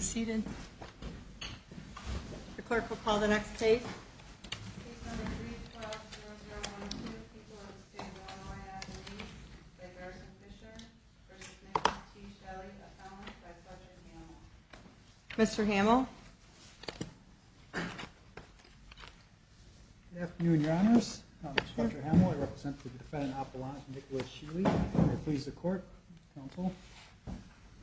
seated the clerk will call the next case mr. Hamill Good afternoon, your honors. I'm Judge Hamill. I represent the defendant Appalachian Nicholas Sheley. I please the court, counsel.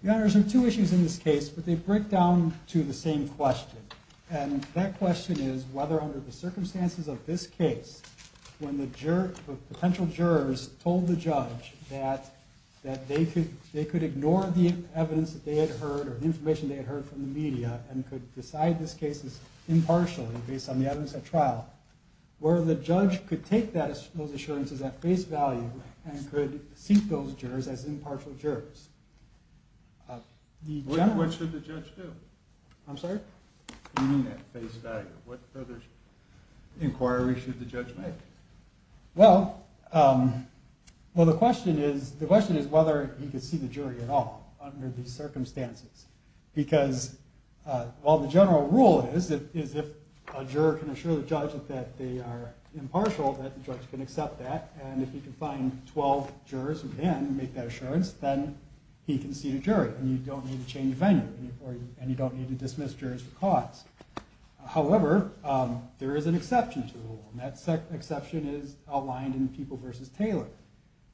Your honors, there are two issues in this case, but they break down to the same question. And that question is whether under the circumstances of this case, when the potential jurors told the judge that they could ignore the evidence that they had heard or the information they had heard from the media and could decide this case impartially based on the evidence at trial, where the judge could take those assurances at face value and could see those jurors as impartial jurors. What should the judge do? I'm sorry? What further inquiry should the judge make? Well, the question is whether he could see the jury at all under these circumstances. Because while the general rule is if a juror can assure the judge that they are impartial, that the judge can accept that, and if he can find 12 jurors who can make that assurance, then he can see the jury and you don't need to change the venue and you don't need to dismiss jurors for cause. However, there is an exception to the rule, and that exception is outlined in People v. Taylor,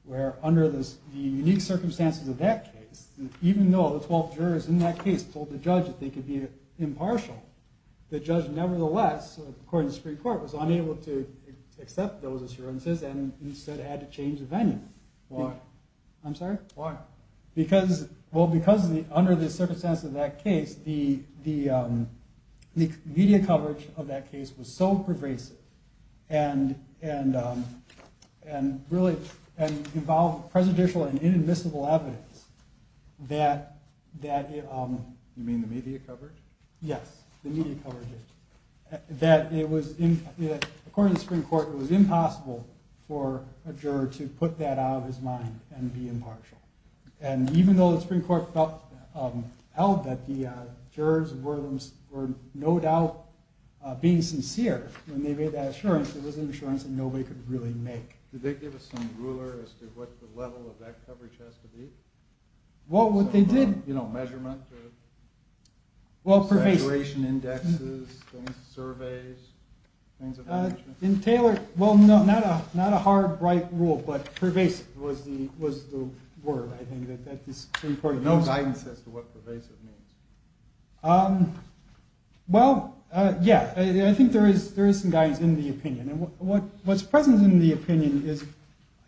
where under the unique circumstances of that case, even though the 12 jurors in that case told the judge that they could be impartial, the judge nevertheless, according to the Supreme Court, was unable to accept those assurances and instead had to change the venue. Why? I'm sorry? Why? Well, because under the circumstances of that case, the media coverage of that case was so pervasive and involved presidential and inadmissible evidence that it was, according to the Supreme Court, it was impossible for a juror to put that out of his mind and be impartial. And even though the Supreme Court held that the jurors were no doubt being sincere when they made that assurance, it was an assurance that nobody could really make. Did they give us some ruler as to what the level of that coverage has to be? Well, what they did... You know, measurement or... Well, pervasive. Saturation indexes, surveys, things of that nature. In Taylor... Well, no, not a hard, bright rule, but pervasive was the word, I think, that the Supreme Court used. No guidance as to what pervasive means. Well, yeah, I think there is some guidance in the opinion. And what's present in the opinion is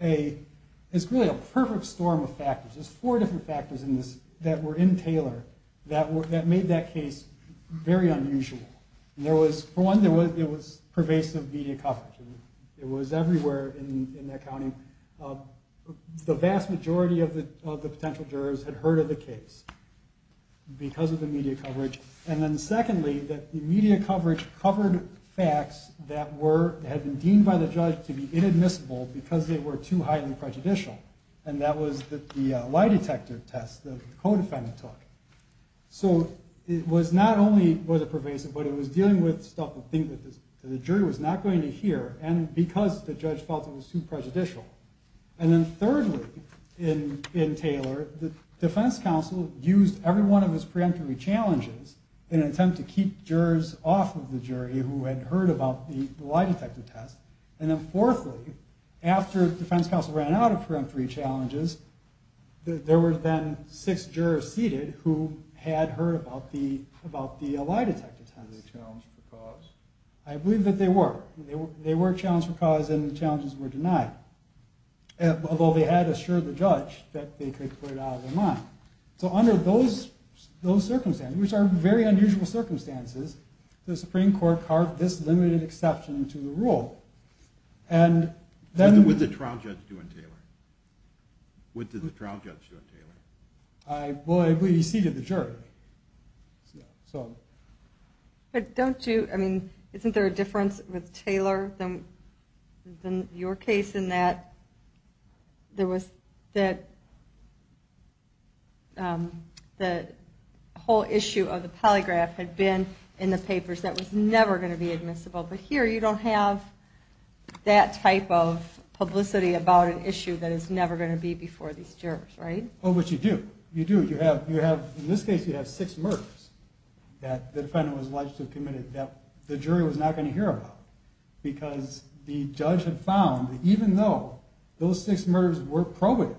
really a perfect storm of factors. There's four different factors in this that were in Taylor that made that case very unusual. For one, it was pervasive media coverage. It was everywhere in that county. The vast majority of the potential jurors had heard of the case because of the media coverage. And then secondly, that the media coverage covered facts that had been deemed by the judge to be inadmissible because they were too highly prejudicial. And that was the lie detector test the co-defendant took. So it was not only was it pervasive, but it was dealing with stuff that the jury was not going to hear and because the judge felt it was too prejudicial. And then thirdly, in Taylor, the defense counsel used every one of his preemptory challenges in an attempt to keep jurors off of the jury who had heard about the lie detector test. And then fourthly, after the defense counsel ran out of preemptory challenges, there were then six jurors seated who had heard about the lie detector test. Were they challenged for cause? I believe that they were. They were challenged for cause and the challenges were denied. Although they had assured the judge that they could put it out of their mind. So under those circumstances, which are very unusual circumstances, the Supreme Court carved this limited exception to the rule. What did the trial judge do in Taylor? What did the trial judge do in Taylor? Well, he seated the jury. But don't you, I mean, isn't there a difference with Taylor than your case in that there was that the whole issue of the polygraph had been in the papers. That was never going to be admissible. But here you don't have that type of publicity about an issue that is never going to be before these jurors, right? Oh, but you do. You do. In this case you have six murders that the defendant was alleged to have committed that the jury was not going to hear about. Because the judge had found that even though those six murders were probative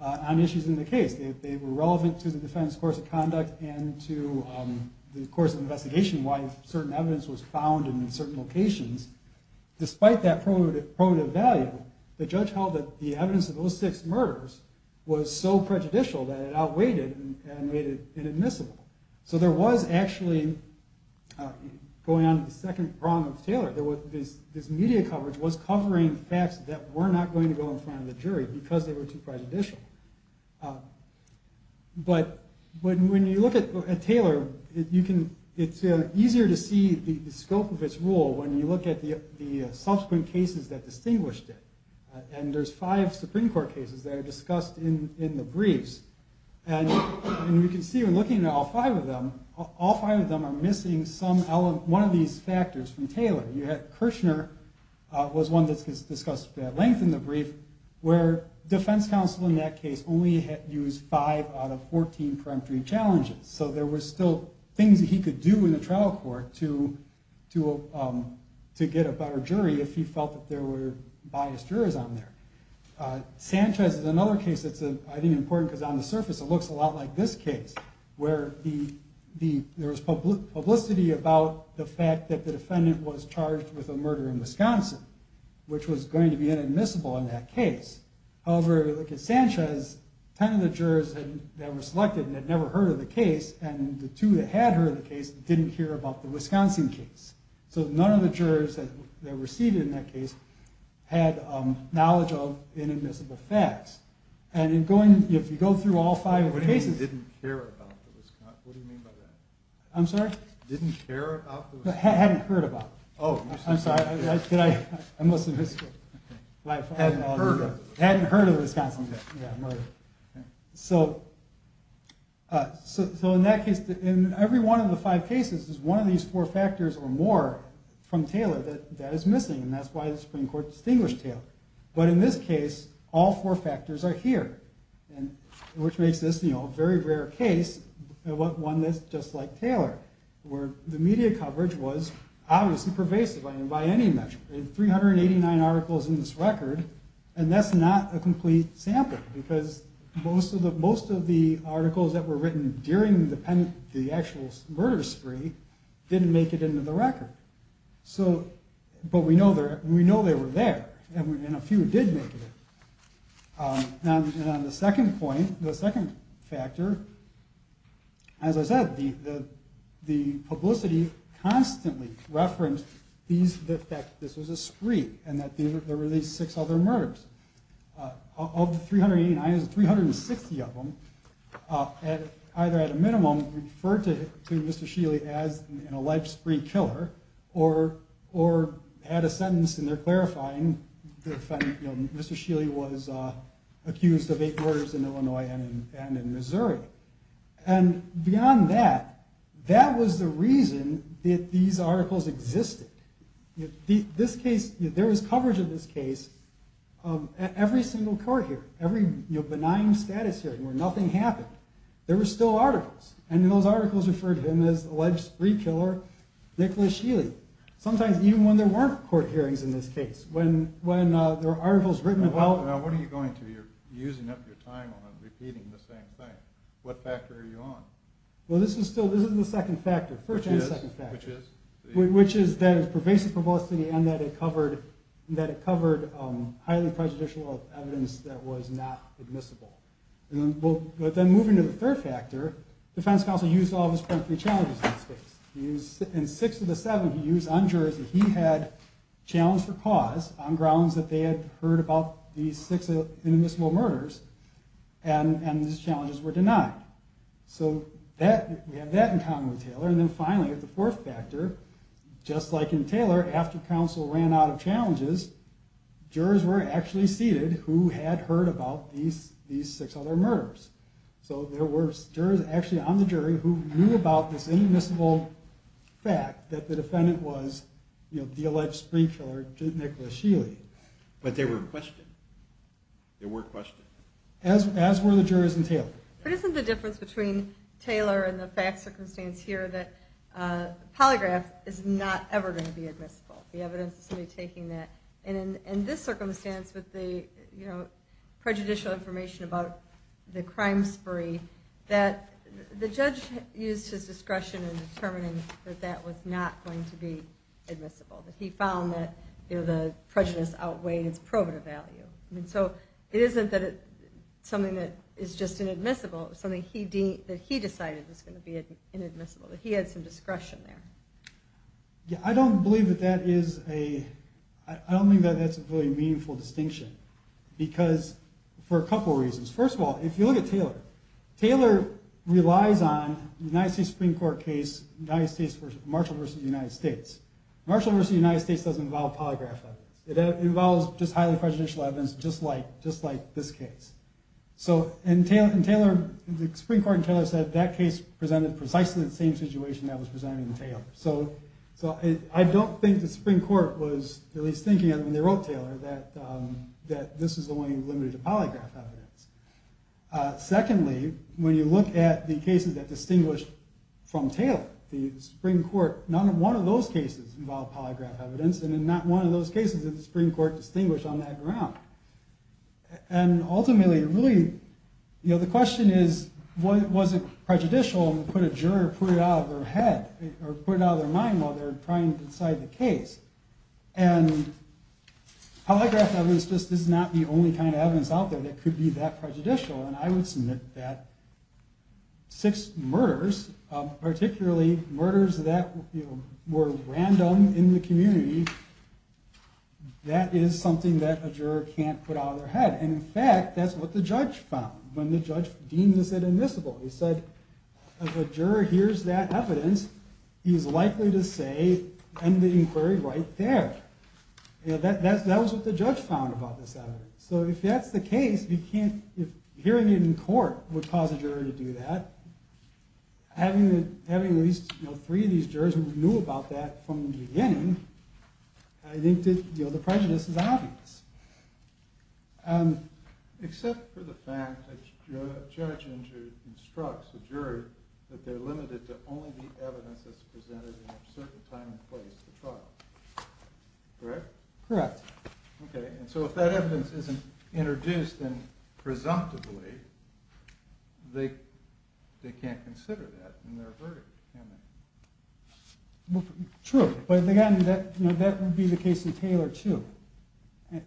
on issues in the case, they were relevant to the defendant's course of conduct and to the course of investigation, why certain evidence was found in certain locations. Despite that probative value, the judge held that the evidence of those six murders was so prejudicial that it outweighed it and made it inadmissible. So there was actually, going on to the second prong of Taylor, this media coverage was covering facts that were not going to go in front of the jury because they were too prejudicial. But when you look at Taylor, it's easier to see the scope of its rule when you look at the subsequent cases that distinguished it. And there's five Supreme Court cases that are discussed in the briefs. And you can see when looking at all five of them, all five of them are missing one of these factors from Taylor. You have Kirchner was one that's discussed at length in the brief, where defense counsel in that case only used five out of 14 peremptory challenges. So there were still things that he could do in the trial court to get a better jury if he felt that there were biased jurors on there. Sanchez is another case that's, I think, important because on the surface, it looks a lot like this case, where there was publicity about the fact that the defendant was charged with a murder in Wisconsin, which was going to be inadmissible in that case. However, look at Sanchez. Ten of the jurors that were selected had never heard of the case, and the two that had heard of the case didn't hear about the Wisconsin case. So none of the jurors that were seated in that case had knowledge of inadmissible facts. And if you go through all five of the cases... What do you mean, didn't care about the Wisconsin? What do you mean by that? I'm sorry? Didn't care about the Wisconsin? Hadn't heard about it. Oh, I'm sorry. I must have missed it. Hadn't heard of it. Hadn't heard of the Wisconsin case. So in that case, in every one of the five cases, there's one of these four factors or more from Taylor that is missing, and that's why the Supreme Court distinguished Taylor. But in this case, all four factors are here, which makes this a very rare case, one that's just like Taylor, where the media coverage was obviously pervasive. There are 389 articles in this record, and that's not a complete sample because most of the articles that were written during the actual murder spree didn't make it into the record. But we know they were there, and a few did make it. And on the second point, the second factor, as I said, the publicity constantly referenced that this was a spree and that there were these six other murders. Of the 389, 360 of them either at a minimum referred to Mr. Scheele as a life spree killer or had a sentence, and they're clarifying that Mr. Scheele was accused of eight murders in Illinois and in Missouri. And beyond that, that was the reason that these articles existed. There was coverage of this case at every single court hearing, every benign status hearing where nothing happened. There were still articles, and those articles referred to him as alleged spree killer Nicholas Scheele, sometimes even when there weren't court hearings in this case. When there were articles written about... So now what are you going to? You're using up your time on repeating the same thing. What factor are you on? Well, this is the second factor, first and second factor, which is that it's pervasive publicity and that it covered highly prejudicial evidence that was not admissible. But then moving to the third factor, the defense counsel used all of his primary challenges in this case. In six of the seven he used on jurors that he had challenged for cause on grounds that they had heard about these six inadmissible murders and these challenges were denied. So we have that in common with Taylor. And then finally, the fourth factor, just like in Taylor, after counsel ran out of challenges, jurors were actually seated who had heard about these six other murders. So there were jurors actually on the jury who knew about this inadmissible fact that the defendant was the alleged spree killer Nicholas Sheely. But they were questioned. They were questioned. As were the jurors in Taylor. But isn't the difference between Taylor and the fact circumstance here that the polygraph is not ever going to be admissible? The evidence is going to be taking that. And in this circumstance with the prejudicial information about the crime spree, the judge used his discretion in determining that that was not going to be admissible. That he found that the prejudice outweighed its probative value. So it isn't that it's something that is just inadmissible. It's something that he decided was going to be inadmissible, that he had some discretion there. I don't believe that that is a really meaningful distinction because for a couple reasons. First of all, if you look at Taylor, Taylor relies on the United States Supreme Court case, Marshall v. United States. Marshall v. United States doesn't involve polygraph evidence. It involves just highly prejudicial evidence just like this case. So in Taylor, the Supreme Court in Taylor said that case presented precisely the same situation that was presented in Taylor. So I don't think the Supreme Court was at least thinking of when they wrote Taylor that this is the only limited polygraph evidence. Secondly, when you look at the cases that distinguish from Taylor, the Supreme Court, not one of those cases involved polygraph evidence and not one of those cases did the Supreme Court distinguish on that ground. And ultimately, really, the question is was it prejudicial and put a juror put it out of their head or put it out of their mind while they're trying to decide the case. And polygraph evidence just is not the only kind of evidence out there that could be that prejudicial. And I would submit that six murders, particularly murders that were random in the community, that is something that a juror can't put out of their head. And, in fact, that's what the judge found when the judge deemed this inadmissible. He said if a juror hears that evidence, he's likely to say, end the inquiry right there. That was what the judge found about this evidence. So if that's the case, hearing it in court would cause a juror to do that. Having at least three of these jurors who knew about that from the beginning, I think the prejudice is obvious. Except for the fact that a judge instructs a juror that they're limited to only the evidence that's presented in a certain time and place at the trial. Correct? Correct. Yes. Okay. And so if that evidence isn't introduced presumptively, they can't consider that in their verdict, can they? True. But, again, that would be the case in Taylor, too.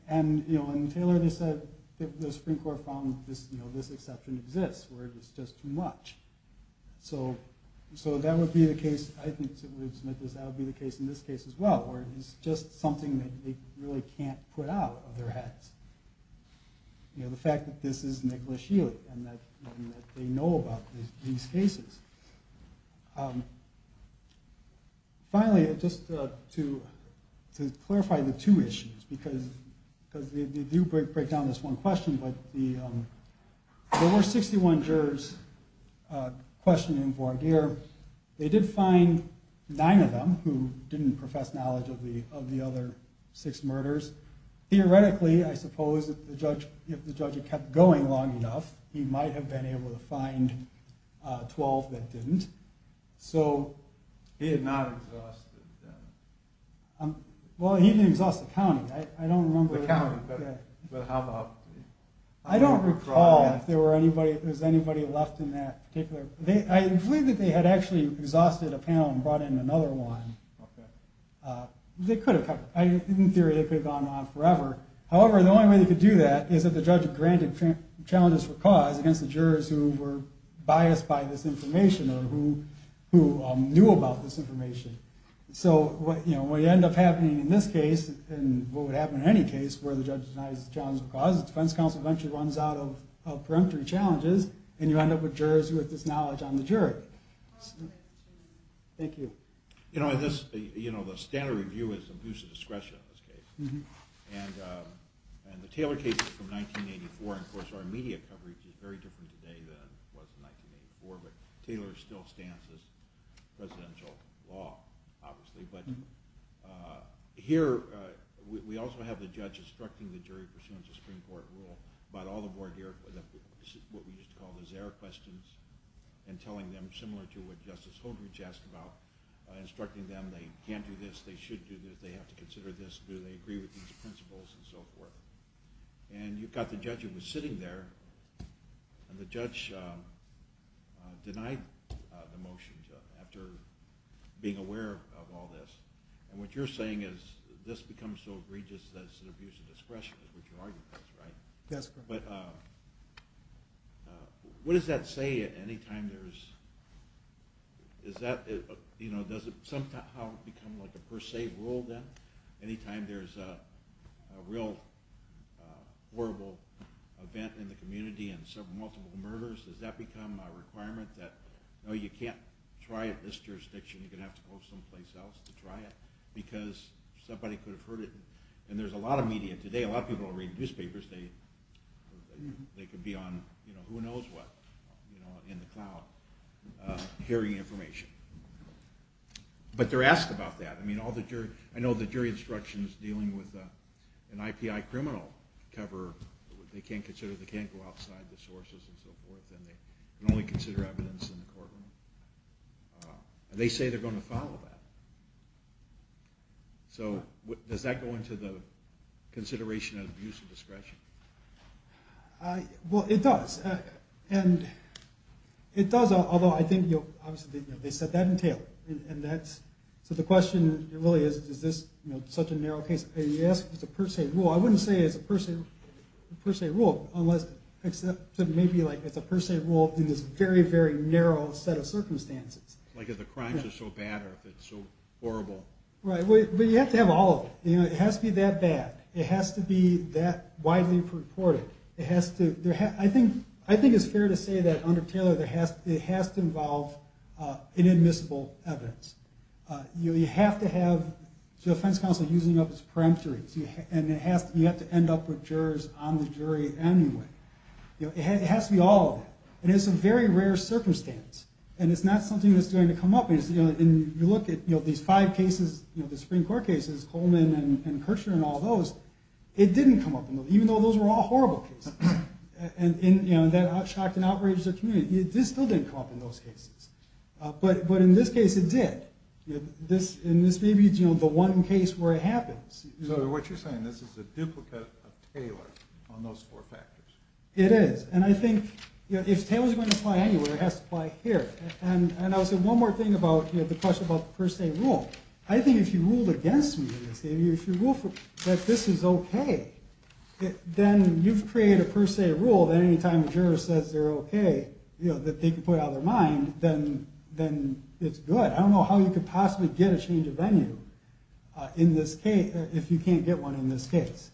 And in Taylor they said the Supreme Court found this exception exists where it was just too much. So that would be the case, I think, that would be the case in this case as well, where it's just something that they really can't put out of their heads. You know, the fact that this is Nicholas Healy and that they know about these cases. Finally, just to clarify the two issues, because they do break down this one question, but there were 61 jurors questioned in voir dire. They did find nine of them who didn't profess knowledge of the other six murders. Theoretically, I suppose, if the judge had kept going long enough, he might have been able to find 12 that didn't. He did not exhaust the judge. Well, he didn't exhaust the county. The county, but how about the... I don't recall if there was anybody left in that particular... I believe that they had actually exhausted a panel and brought in another one. They could have. In theory, they could have gone on forever. However, the only way they could do that is if the judge granted challenges for cause against the jurors who were biased by this information or who knew about this information. So what would end up happening in this case, and what would happen in any case where the judge denies the challenge of cause, the defense counsel eventually runs out of peremptory challenges and you end up with jurors who have this knowledge on the jury? Thank you. You know, the standard review is abuse of discretion in this case. And the Taylor case is from 1984, and of course our media coverage is very different today than it was in 1984, but Taylor still stands as presidential law, obviously. But here, we also have the judge instructing the jury pursuant to Supreme Court rule, what we used to call the Zare questions, and telling them, similar to what Justice Holdrege asked about, instructing them, they can't do this, they should do this, they have to consider this, do they agree with these principles, and so forth. And you've got the judge who was sitting there, and the judge denied the motion after being aware of all this. And what you're saying is this becomes so egregious that it's an abuse of discretion, is what you're arguing, right? That's correct. But what does that say at any time? Does it somehow become like a per se rule then? Any time there's a real horrible event in the community and several multiple murders, does that become a requirement that, no, you can't try it in this jurisdiction, you're going to have to go someplace else to try it, because somebody could have heard it. And there's a lot of media today, a lot of people are reading newspapers, they could be on who knows what in the cloud, hearing information. But they're asked about that. I know the jury instruction is dealing with an IPI criminal cover, they can't go outside the sources and so forth, and they can only consider evidence in the courtroom. They say they're going to follow that. So does that go into the consideration of abuse of discretion? Well, it does. And it does, although I think, obviously, they set that in Taylor. So the question really is, is this such a narrow case? If you ask if it's a per se rule, I wouldn't say it's a per se rule, except maybe it's a per se rule in this very, very narrow set of circumstances. Like if the crimes are so bad or if it's so horrible. Right, but you have to have all of it. It has to be that bad. It has to be that widely reported. I think it's fair to say that under Taylor it has to involve inadmissible evidence. You have to have the defense counsel using up its peremptories, and you have to end up with jurors on the jury anyway. It has to be all of it. And it's a very rare circumstance, and it's not something that's going to come up. You look at these five cases, the Supreme Court cases, Coleman and Kirchner and all those, it didn't come up in those, even though those were all horrible cases. And that shocked and outraged the community. It still didn't come up in those cases. But in this case it did. And this may be the one case where it happens. So what you're saying, this is a duplicate of Taylor on those four factors. It is. And I think if Taylor's going to apply anywhere, it has to apply here. And I'll say one more thing about the question about the per se rule. I think if you ruled against me in this case, if you ruled that this is okay, then you've created a per se rule that any time a juror says they're okay, that they can put it out of their mind, then it's good. I don't know how you could possibly get a change of venue if you can't get one in this case,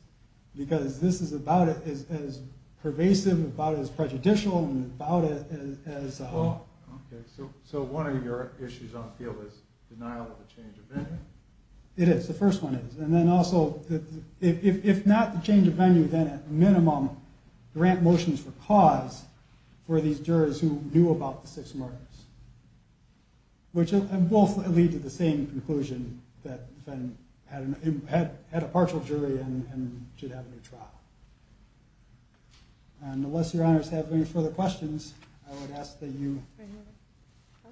because this is about it as pervasive, about it as prejudicial, and about it as- Well, okay. So one of your issues on the field is denial of a change of venue. It is. The first one is. And then also, if not the change of venue, then at minimum grant motions for cause for these jurors who knew about the six murders, which both lead to the same conclusion that the defendant had a partial jury and should have a new trial. And unless Your Honors have any further questions, I would ask that you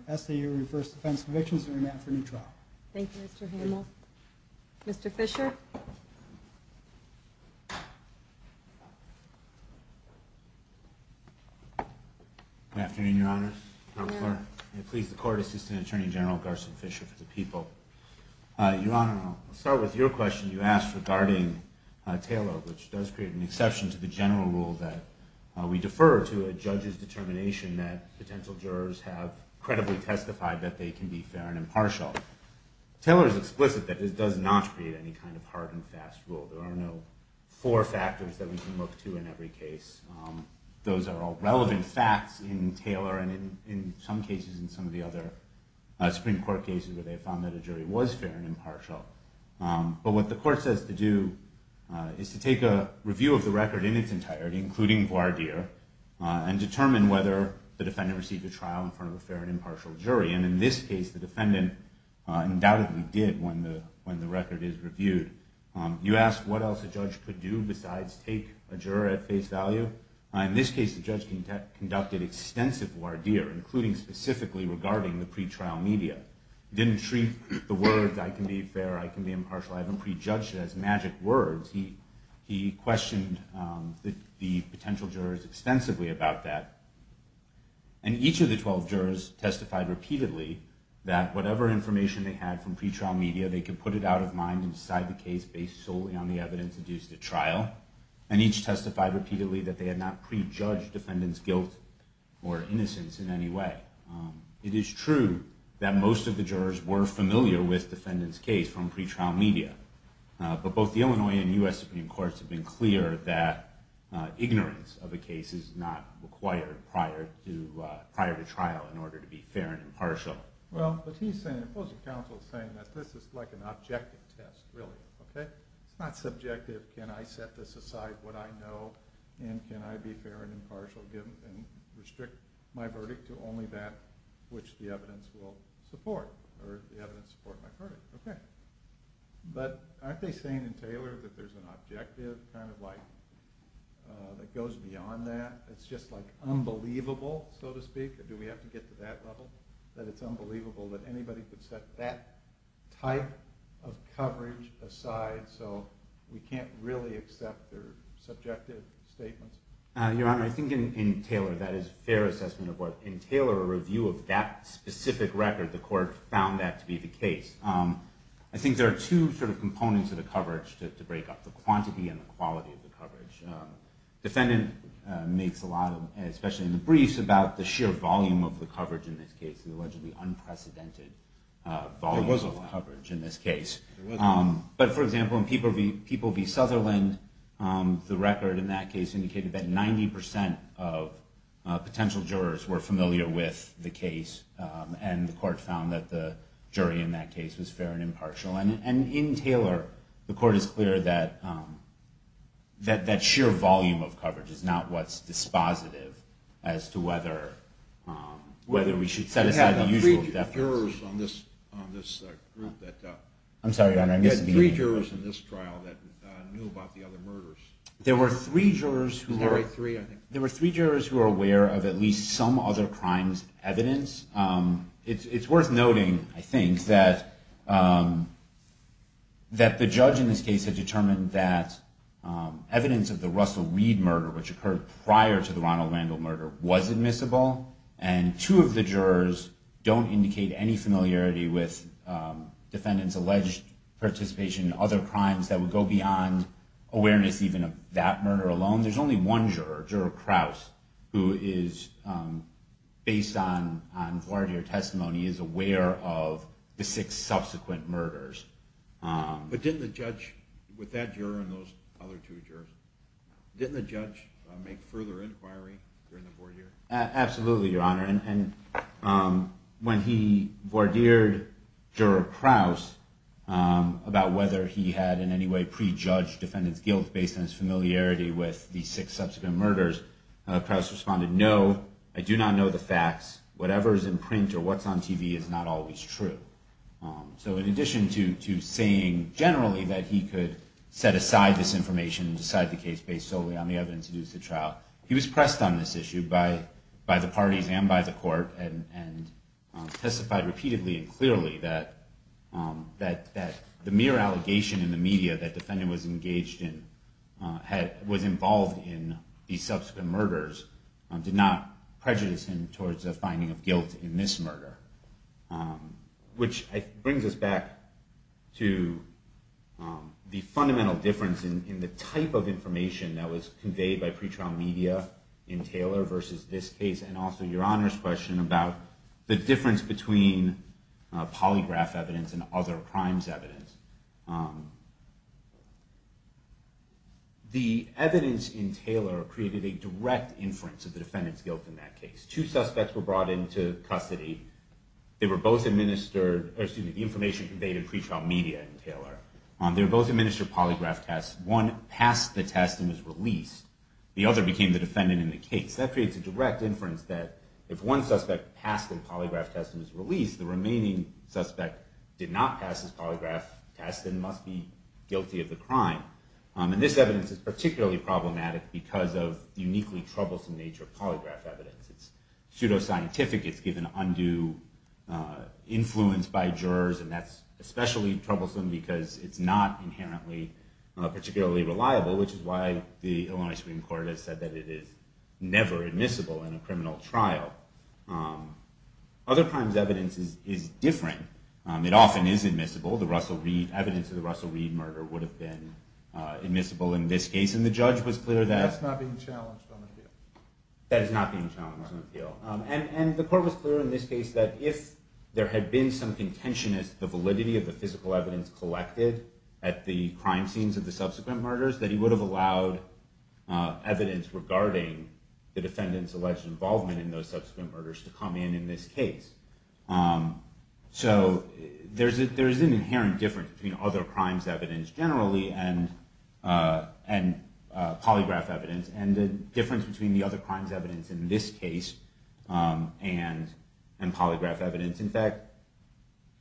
reverse defense convictions and remand for a new trial. Thank you, Mr. Hamel. Mr. Fisher? Good afternoon, Your Honors. Please, the Court Assistant Attorney General Garson Fisher for the people. Your Honor, I'll start with your question you asked regarding Taylor, which does create an exception to the general rule that we defer to a judge's determination that potential jurors have credibly testified that they can be fair and impartial. There are no four factors that we can look to in every case. Those are all relevant facts in Taylor and, in some cases, in some of the other Supreme Court cases where they found that a jury was fair and impartial. But what the Court says to do is to take a review of the record in its entirety, including voir dire, and determine whether the defendant received a trial in front of a fair and impartial jury. And in this case, the defendant undoubtedly did when the record is reviewed. You asked what else a judge could do besides take a juror at face value. In this case, the judge conducted extensive voir dire, including specifically regarding the pretrial media. He didn't treat the words, I can be fair, I can be impartial. I haven't prejudged it as magic words. He questioned the potential jurors extensively about that. And each of the 12 jurors testified repeatedly that whatever information they had from pretrial media, they could put it out of mind and decide the case based solely on the evidence that used at trial, and each testified repeatedly that they had not prejudged defendant's guilt or innocence in any way. It is true that most of the jurors were familiar with the defendant's case from pretrial media, but both the Illinois and U.S. Supreme Courts have been clear that ignorance of a case is not required prior to trial in order to be fair and impartial. Well, but he's saying, the opposing counsel is saying, that this is like an objective test, really, okay? It's not subjective. Can I set this aside, what I know, and can I be fair and impartial and restrict my verdict to only that which the evidence will support, or the evidence support my verdict, okay? But aren't they saying in Taylor that there's an objective kind of like that goes beyond that? It's just like unbelievable, so to speak, or do we have to get to that level, that it's unbelievable that anybody could set that type of coverage aside so we can't really accept their subjective statements? Your Honor, I think in Taylor, that is a fair assessment of what, in Taylor, a review of that specific record, the court found that to be the case. I think there are two sort of components of the coverage to break up, the quantity and the quality of the coverage. Defendant makes a lot of, especially in the briefs, about the sheer volume of the coverage in this case, the allegedly unprecedented volume of coverage in this case. But, for example, in People v. Sutherland, the record in that case indicated that 90% of potential jurors were familiar with the case, and the court found that the jury in that case was fair and impartial. And in Taylor, the court is clear that that sheer volume of coverage is not what's dispositive as to whether we should set aside the usual deference. You had three jurors on this group that knew about the other murders. There were three jurors who were aware of at least some other crimes' evidence It's worth noting, I think, that the judge in this case had determined that evidence of the Russell Weed murder, which occurred prior to the Ronald Randall murder, was admissible, and two of the jurors don't indicate any familiarity with defendant's alleged participation in other crimes that would go beyond awareness even of that murder alone. There's only one juror, Juror Krause, who is, based on voir dire testimony, is aware of the six subsequent murders. But didn't the judge, with that juror and those other two jurors, didn't the judge make further inquiry during the voir dire? Absolutely, Your Honor. And when he voir dired Juror Krause about whether he had in any way prejudged defendant's guilt based on his familiarity with the six subsequent murders, Krause responded, no, I do not know the facts. Whatever is in print or what's on TV is not always true. So in addition to saying generally that he could set aside this information and decide the case based solely on the evidence used at trial, he was pressed on this issue by the parties and by the court and testified repeatedly and clearly that the mere allegation in the media that defendant was involved in these subsequent murders did not prejudice him towards a finding of guilt in this murder. Which brings us back to the fundamental difference in the type of information that was conveyed by pretrial media in Taylor versus this case, and also Your Honor's question about the difference between polygraph evidence and other crimes evidence. The evidence in Taylor created a direct inference of the defendant's guilt in that case. Two suspects were brought into custody. They were both administered, or excuse me, the information conveyed in pretrial media in Taylor. They were both administered polygraph tests. One passed the test and was released. The other became the defendant in the case. That creates a direct inference that if one suspect passed the polygraph test and was released, the remaining suspect did not pass his polygraph test and must be guilty of the crime. This evidence is particularly problematic because of the uniquely troublesome nature of polygraph evidence. It's pseudoscientific. It's given undue influence by jurors, and that's especially troublesome because it's not inherently particularly reliable, which is why the Illinois Supreme Court has said that it is never admissible in a criminal trial. Other crimes evidence is different. It often is admissible. The evidence of the Russell Reed murder would have been admissible in this case, and the judge was clear that... That's not being challenged on appeal. That is not being challenged on appeal. And the court was clear in this case that if there had been some contention as to the validity of the physical evidence collected at the crime scenes of the subsequent murders, that he would have allowed evidence regarding the defendant's alleged involvement in those subsequent murders to come in in this case. So there is an inherent difference between other crimes evidence generally and polygraph evidence, and the difference between the other crimes evidence in this case and polygraph evidence. In fact,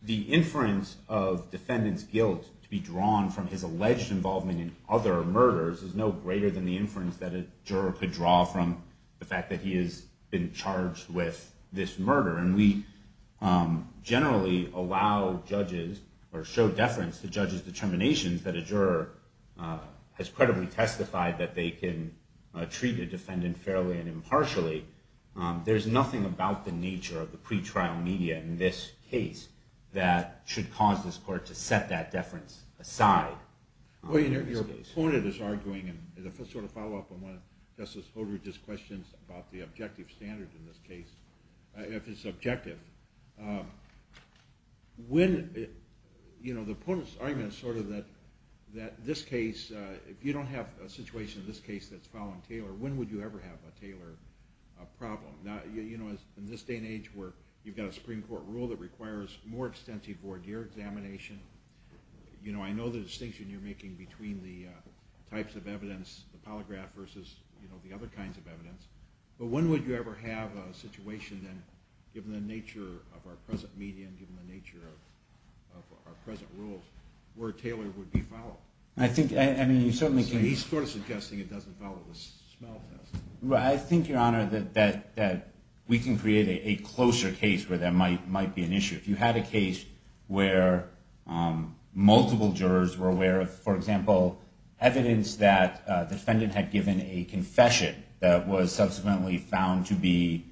the inference of defendant's guilt to be drawn from his alleged involvement in other murders is no greater than the inference that a juror could draw from the fact that he has been charged with this murder. And we generally allow judges or show deference to judges' determinations that a juror has credibly testified that they can treat a defendant fairly and impartially. There's nothing about the nature of the pretrial media in this case that should cause this court to set that deference aside. Your opponent is arguing, and if I sort of follow up on one of Justice Holdridge's questions about the objective standard in this case, if it's objective, the opponent's argument is sort of that this case, if you don't have a situation in this case that's following Taylor, when would you ever have a Taylor problem? In this day and age where you've got a Supreme Court rule that requires more extensive voir dire examination, I know the distinction you're making between the types of evidence, the polygraph versus the other kinds of evidence, but when would you ever have a situation then, given the nature of our present media and given the nature of our present rules, where Taylor would be followed? He's sort of suggesting it doesn't follow the smell test. I think, Your Honor, that we can create a closer case where there might be an issue. If you had a case where multiple jurors were aware of, for example, evidence that a defendant had given a confession that was subsequently found to be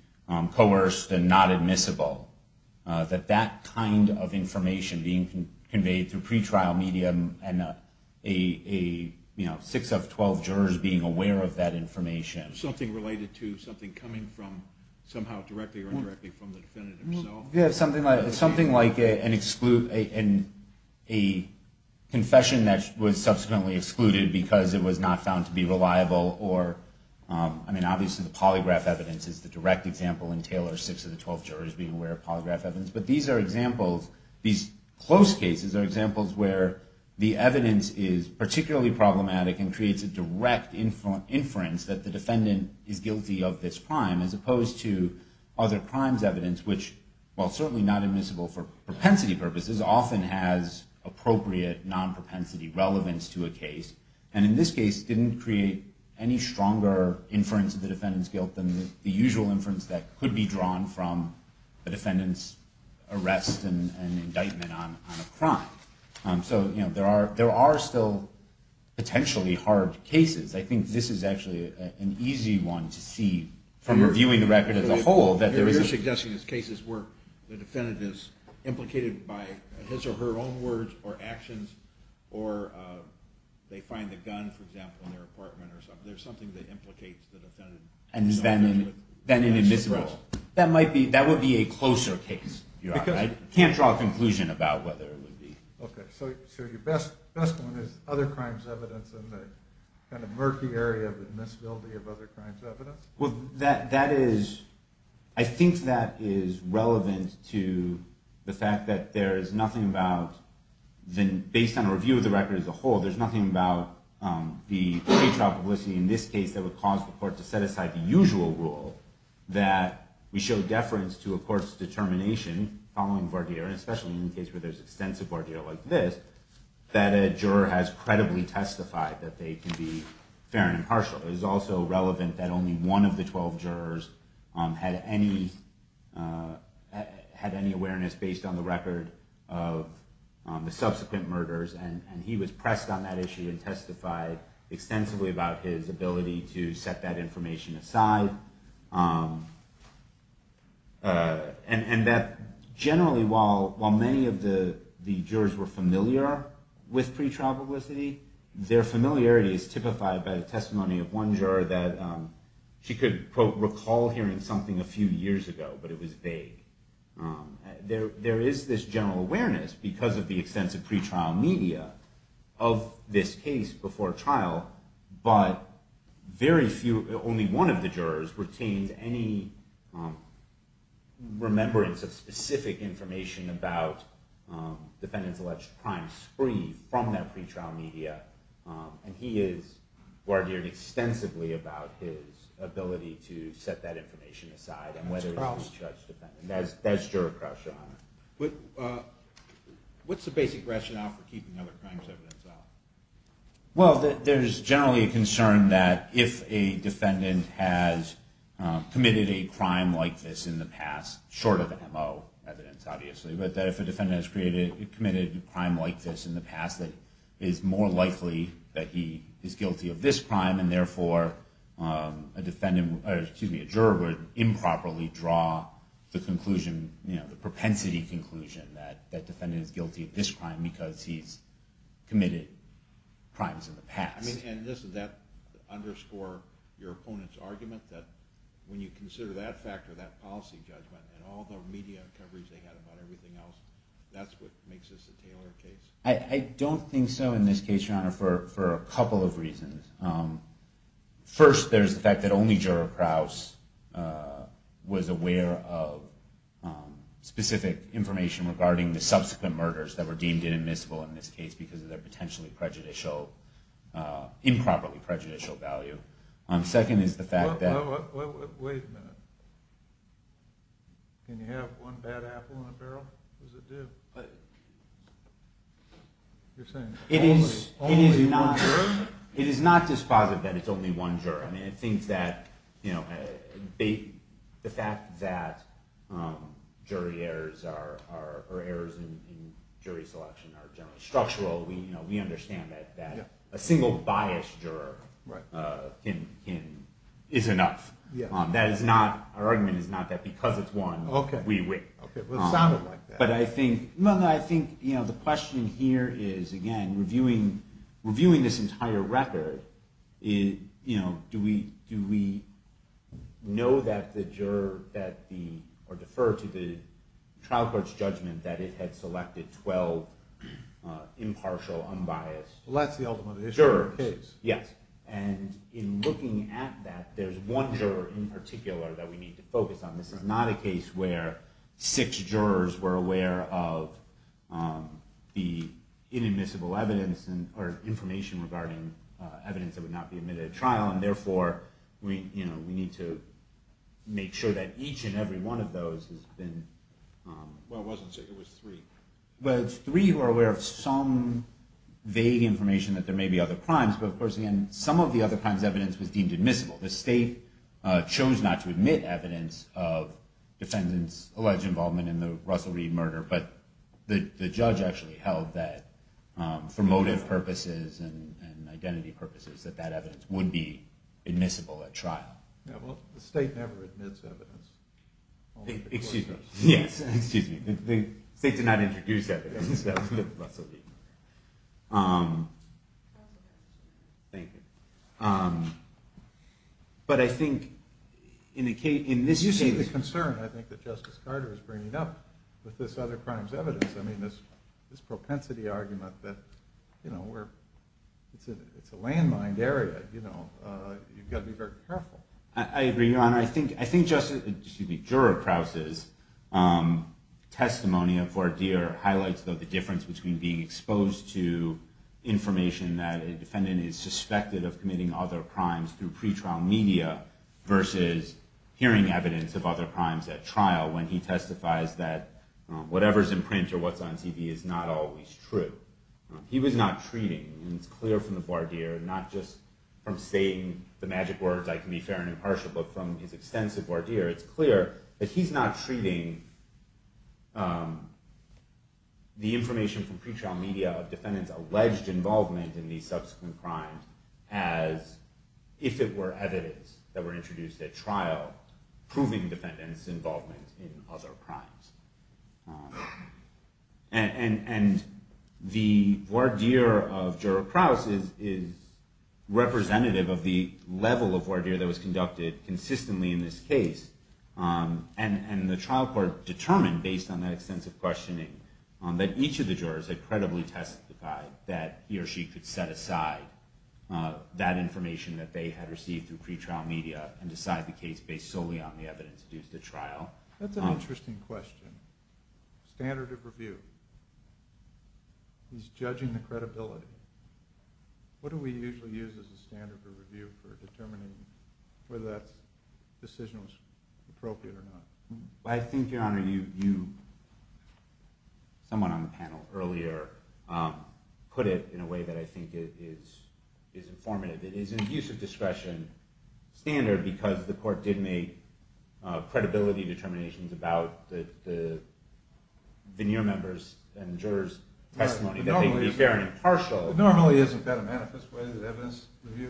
coerced and not admissible, that that kind of information being conveyed through Is this something related to something coming from, somehow directly or indirectly from the defendant himself? It's something like a confession that was subsequently excluded because it was not found to be reliable, or, I mean, obviously the polygraph evidence is the direct example, and Taylor, six of the 12 jurors being aware of polygraph evidence, but these are examples, these close cases are examples where the evidence is particularly problematic and creates a direct inference that the defendant is guilty of this crime, as opposed to other crimes evidence, which, while certainly not admissible for propensity purposes, often has appropriate non-propensity relevance to a case, and in this case didn't create any stronger inference of the defendant's guilt than the usual inference that could be drawn from the defendant's arrest and indictment on a crime. So, you know, there are still potentially hard cases. I think this is actually an easy one to see from reviewing the record as a whole. You're suggesting there's cases where the defendant is implicated by his or her own words or actions, or they find a gun, for example, in their apartment or something. There's something that implicates the defendant. And is then an admissible. That might be, that would be a closer case. I can't draw a conclusion about whether it would be. Okay, so your best one is other crimes evidence and the kind of murky area of admissibility of other crimes evidence? Well, that is, I think that is relevant to the fact that there is nothing about, based on a review of the record as a whole, there's nothing about the pretrial publicity in this case that would cause the court to set aside the usual rule that we show deference to a court's determination, following Verdier, and especially in the case where there's extensive Verdier like this, that a juror has credibly testified that they can be fair and impartial. It is also relevant that only one of the 12 jurors had any, had any awareness based on the record of the subsequent murders. And he was pressed on that issue and testified extensively about his ability to set that information aside. And that generally, while many of the jurors were familiar with pretrial publicity, their familiarity is typified by the testimony of one juror that she could, quote, recall hearing something a few years ago, but it was vague. There is this general awareness because of the extensive pretrial media of this case before trial, but very few, only one of the jurors retained any remembrance of specific information about defendants alleged to have crime spree from that pretrial media. And he has argued extensively about his ability to set that information aside. That's juror Crouch, Your Honor. What's the basic rationale for keeping other crimes evidence out? Well, there's generally a concern that if a defendant has committed a crime like this in the past, short of MO evidence, obviously, but that if a defendant has committed a crime like this in the past, it is more likely that he is guilty of this crime, and therefore, a juror would improperly draw the propensity conclusion that the defendant is guilty of this crime because he's committed crimes in the past. And doesn't that underscore your opponent's argument that when you consider that factor, that policy judgment, and all the media coverage they had about everything else, that's what makes this a tailored case? I don't think so in this case, Your Honor, for a couple of reasons. First, there's the fact that only juror Crouch was aware of specific information regarding the subsequent murders that were deemed inadmissible in this case because of their potentially prejudicial, improperly prejudicial value. Second is the fact that... Wait a minute. Can you have one bad apple in a barrel? What does it do? You're saying only one juror? It is not dispositive that it's only one juror. I mean, it thinks that the fact that jury errors are errors in jury selection are generally structural. We understand that a single biased juror is enough. Our argument is not that because it's one, we win. It sounded like that. But I think the question here is, again, reviewing this entire record, do we know that the juror or defer to the trial court's judgment that it had selected 12 impartial, unbiased jurors? Yes. And in looking at that, there's one juror in particular that we need to focus on. This is not a case where six jurors were aware of the inadmissible evidence or information regarding evidence that would not be admitted at trial, and therefore we need to make sure that each and every one of those has been... Well, it wasn't six. It was three. Well, it's three who are aware of some vague information that there may be other crimes, but of course, again, some of the other crimes' evidence was deemed admissible. The state chose not to admit evidence of defendants' alleged involvement in the Russell Reed murder, but the judge actually held that for motive purposes and identity purposes, that that evidence would be admissible at trial. Yeah, well, the state never admits evidence. Excuse me. Yes, excuse me. The state did not introduce evidence of Russell Reed murder. Thank you. But I think in this case... You see the concern, I think, that Justice Carter is bringing up with this other crimes' evidence. I mean, this propensity argument that it's a landmined area. You've got to be very careful. I agree, Your Honor. I think Juror Krause's testimony of Vardir highlights the difference between being exposed to information that a defendant is suspected of committing other crimes through pretrial media versus hearing evidence of other crimes at trial when he testifies that whatever's in print or what's on TV is not always true. He was not treating, and it's clear from the Vardir, not just from saying the magic words, I can be fair and impartial, but from his extensive Vardir, it's clear that he's not treating the information from pretrial media of defendants' alleged involvement in these subsequent crimes as if it were evidence that were introduced at trial proving defendants' involvement in other crimes. And the Vardir of Juror Krause is representative of the level of Vardir that was conducted consistently in this case. And the trial court determined, based on that extensive questioning, that each of the jurors had credibly testified that he or she could set aside that information that they had received through pretrial media and decide the case based solely on the evidence due to the trial. That's an interesting question. Standard of review. He's judging the credibility. What do we usually use as a standard of review for determining whether that decision was appropriate or not? I think, Your Honor, someone on the panel earlier put it in a way that I think is informative. It is an abuse of discretion standard because the court did make credibility determinations about the veneer members and jurors' testimony that they could be fair and impartial. Normally, isn't that a manifest way of evidence review?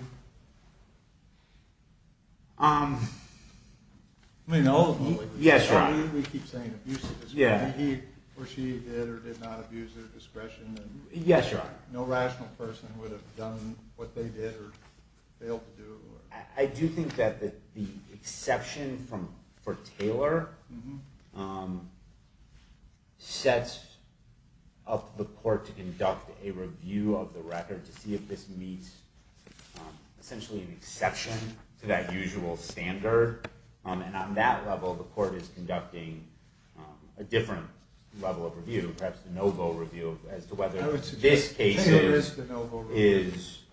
Yes, Your Honor. We keep saying abuse of discretion. He or she did or did not abuse their discretion. Yes, Your Honor. No rational person would have done what they did or failed to do. I do think that the exception for Taylor sets up the court to conduct a review of the record to see if this meets essentially an exception to that usual standard. And on that level, the court is conducting a different level of review, perhaps a no-vote review, as to whether this case is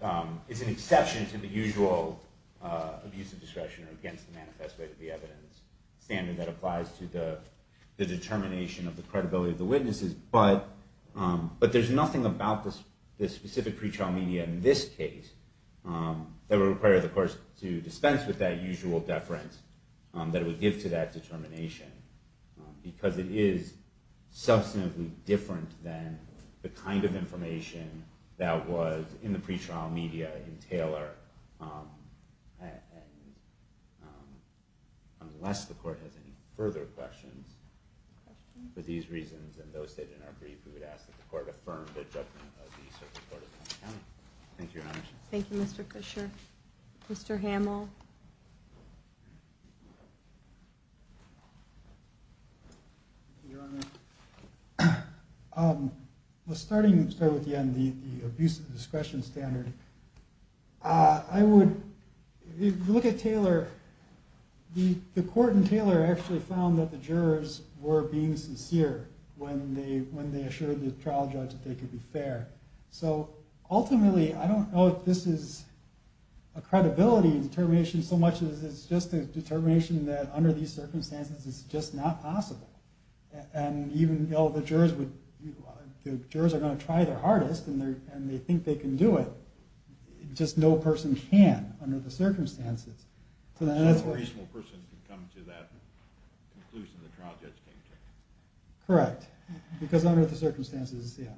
an exception to the usual abuse of discretion or against the manifest way to be evidence standard that applies to the determination of the credibility of the witnesses. But there's nothing about this specific pretrial media in this case that would require the court to dispense with that usual deference that it would give to that determination because it is substantively different than the kind of information that was in the pretrial media in Taylor. Unless the court has any further questions, for these reasons and those stated in our brief, we would ask that the court affirm the judgment of the Circuit Court of Montgomery County. Thank you, Your Honor. Thank you, Mr. Fisher. Mr. Hamill? Thank you, Your Honor. Well, starting with Yan, the abuse of discretion standard, I would look at Taylor. The court in Taylor actually found that the jurors were being sincere when they assured the trial judge that they could be fair. So ultimately, I don't know if this is a credibility determination so much as it's just a determination that under these circumstances, it's just not possible. And even though the jurors are going to try their hardest and they think they can do it, just no person can under the circumstances. So no reasonable person can come to that conclusion the trial judge came to. Correct. Because under the circumstances, yeah.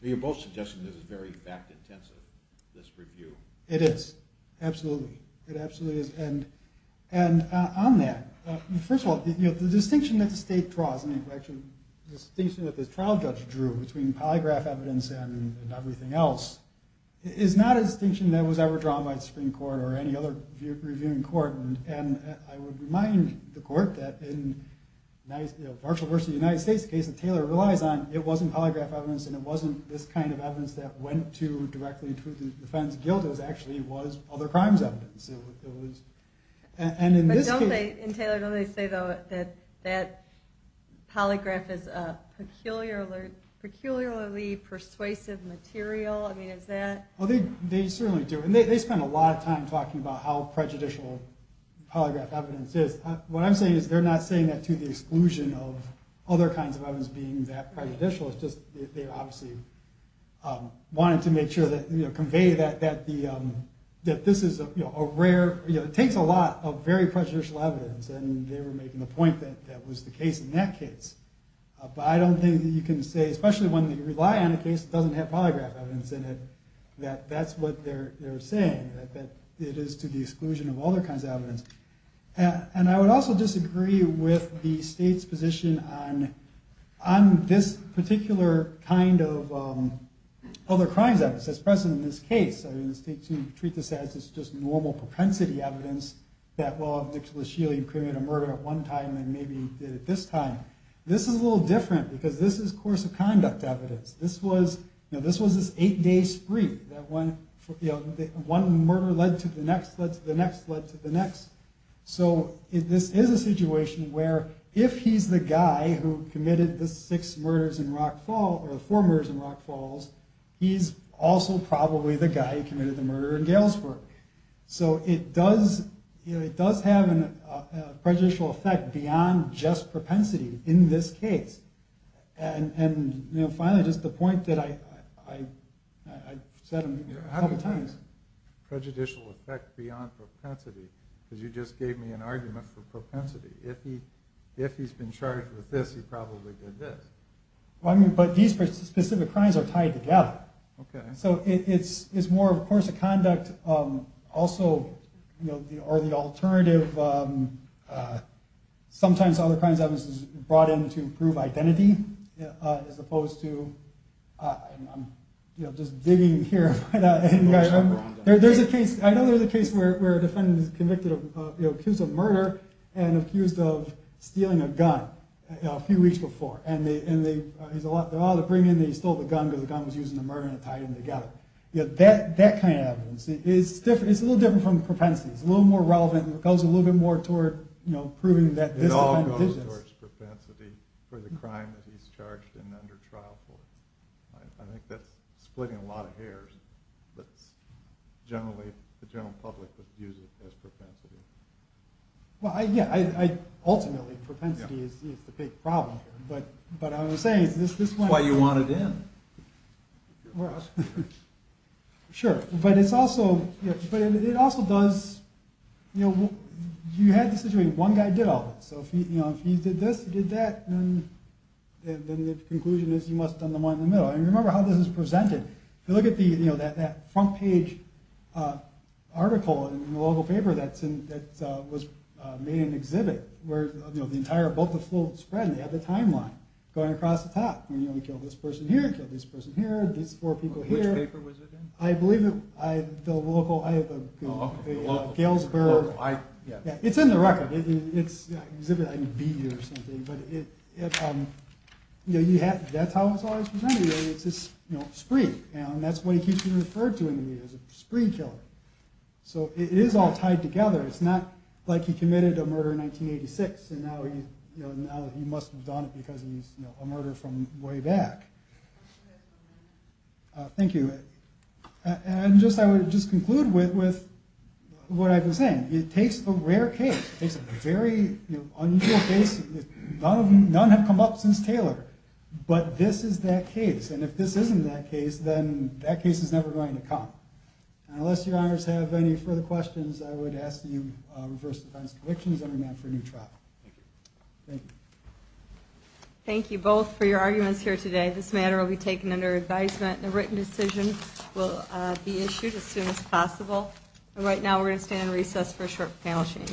You're both suggesting this is very fact-intensive, this review. It is. Absolutely. It absolutely is. And on that, first of all, the distinction that the state draws, the distinction that the trial judge drew between polygraph evidence and everything else is not a distinction that was ever drawn by the Supreme Court or any other reviewing court. And I would remind the court that in Marshall versus the United States case that Taylor relies on, it wasn't polygraph evidence and it wasn't this kind of evidence that went to directly to the defense guild that actually was other crimes evidence. But don't they, in Taylor, don't they say that polygraph is a peculiarly persuasive material? I mean, is that? They certainly do. And they spend a lot of time talking about how prejudicial polygraph evidence is. What I'm saying is they're not saying that to the exclusion of other kinds of evidence being that prejudicial. It's just they obviously wanted to make sure that, you know, convey that this is a rare, you know, it takes a lot of very prejudicial evidence. And they were making the point that that was the case in that case. But I don't think you can say, especially when you rely on a case that doesn't have polygraph evidence in it, that that's what they're saying, that it is to the exclusion of other kinds of evidence. And I would also disagree with the state's position on this particular kind of other crimes evidence that's present in this case. I mean, the state should treat this as just normal propensity evidence that, well, Nicholas Shealy committed a murder at one time and maybe did it this time. This is a little different because this is course of conduct evidence. This was, you know, this was this eight-day spree. That one, you know, one murder led to the next, led to the next, led to the next. So this is a situation where if he's the guy who committed the six murders in Rock Falls or the four murders in Rock Falls, he's also probably the guy who committed the murder in Galesburg. So it does, you know, it does have a prejudicial effect beyond just propensity in this case. And, you know, finally, just the point that I said a couple times. How do you define prejudicial effect beyond propensity? Because you just gave me an argument for propensity. If he's been charged with this, he probably did this. Well, I mean, but these specific crimes are tied together. Okay. So it's more, of course, a conduct also, you know, or the alternative. Sometimes other kinds of evidence is brought in to prove identity as opposed to, you know, just digging here. There's a case. I know there's a case where a defendant is convicted of, you know, accused of murder and accused of stealing a gun a few weeks before. And he's allowed to bring in that he stole the gun because the gun was used in the murder and tied him together. That kind of evidence is different. It's a little different from propensity. It's a little more relevant. It goes a little bit more toward, you know, proving that this defendant did this. It all goes towards propensity for the crime that he's charged and under trial for. I think that's splitting a lot of hairs. But generally, the general public would use it as propensity. Well, yeah. Ultimately, propensity is the big problem here. But I was saying this might be. That's why you wanted in. Sure. But it's also. But it also does. You know, you had this situation. One guy did all this. So, you know, if he did this, he did that. And then the conclusion is you must have done the one in the middle. And remember how this is presented. If you look at the, you know, that front page article in the local paper that was made in an exhibit where, you know, the entire, both the full spread and they had the timeline going across the top. You know, we killed this person here. We killed this person here. These four people here. Which paper was it in? I believe it. The local. Galesburg. It's in the record. It's exhibit B or something. But, you know, that's how it's always presented. It's just, you know, spree. And that's what he keeps being referred to in the media as a spree killer. So it is all tied together. It's not like he committed a murder in 1986. And now he must have done it because he's, you know, a murder from way back. Thank you. And I would just conclude with what I've been saying. It takes a rare case. It takes a very unusual case. None have come up since Taylor. But this is that case. And if this isn't that case, then that case is never going to come. And unless your honors have any further questions, I would ask that you reverse the fines and convictions and remand for a new trial. Thank you. Thank you. Thank you both for your arguments here today. This matter will be taken under advisement. A written decision will be issued as soon as possible. And right now we're going to stand in recess for a short panel change.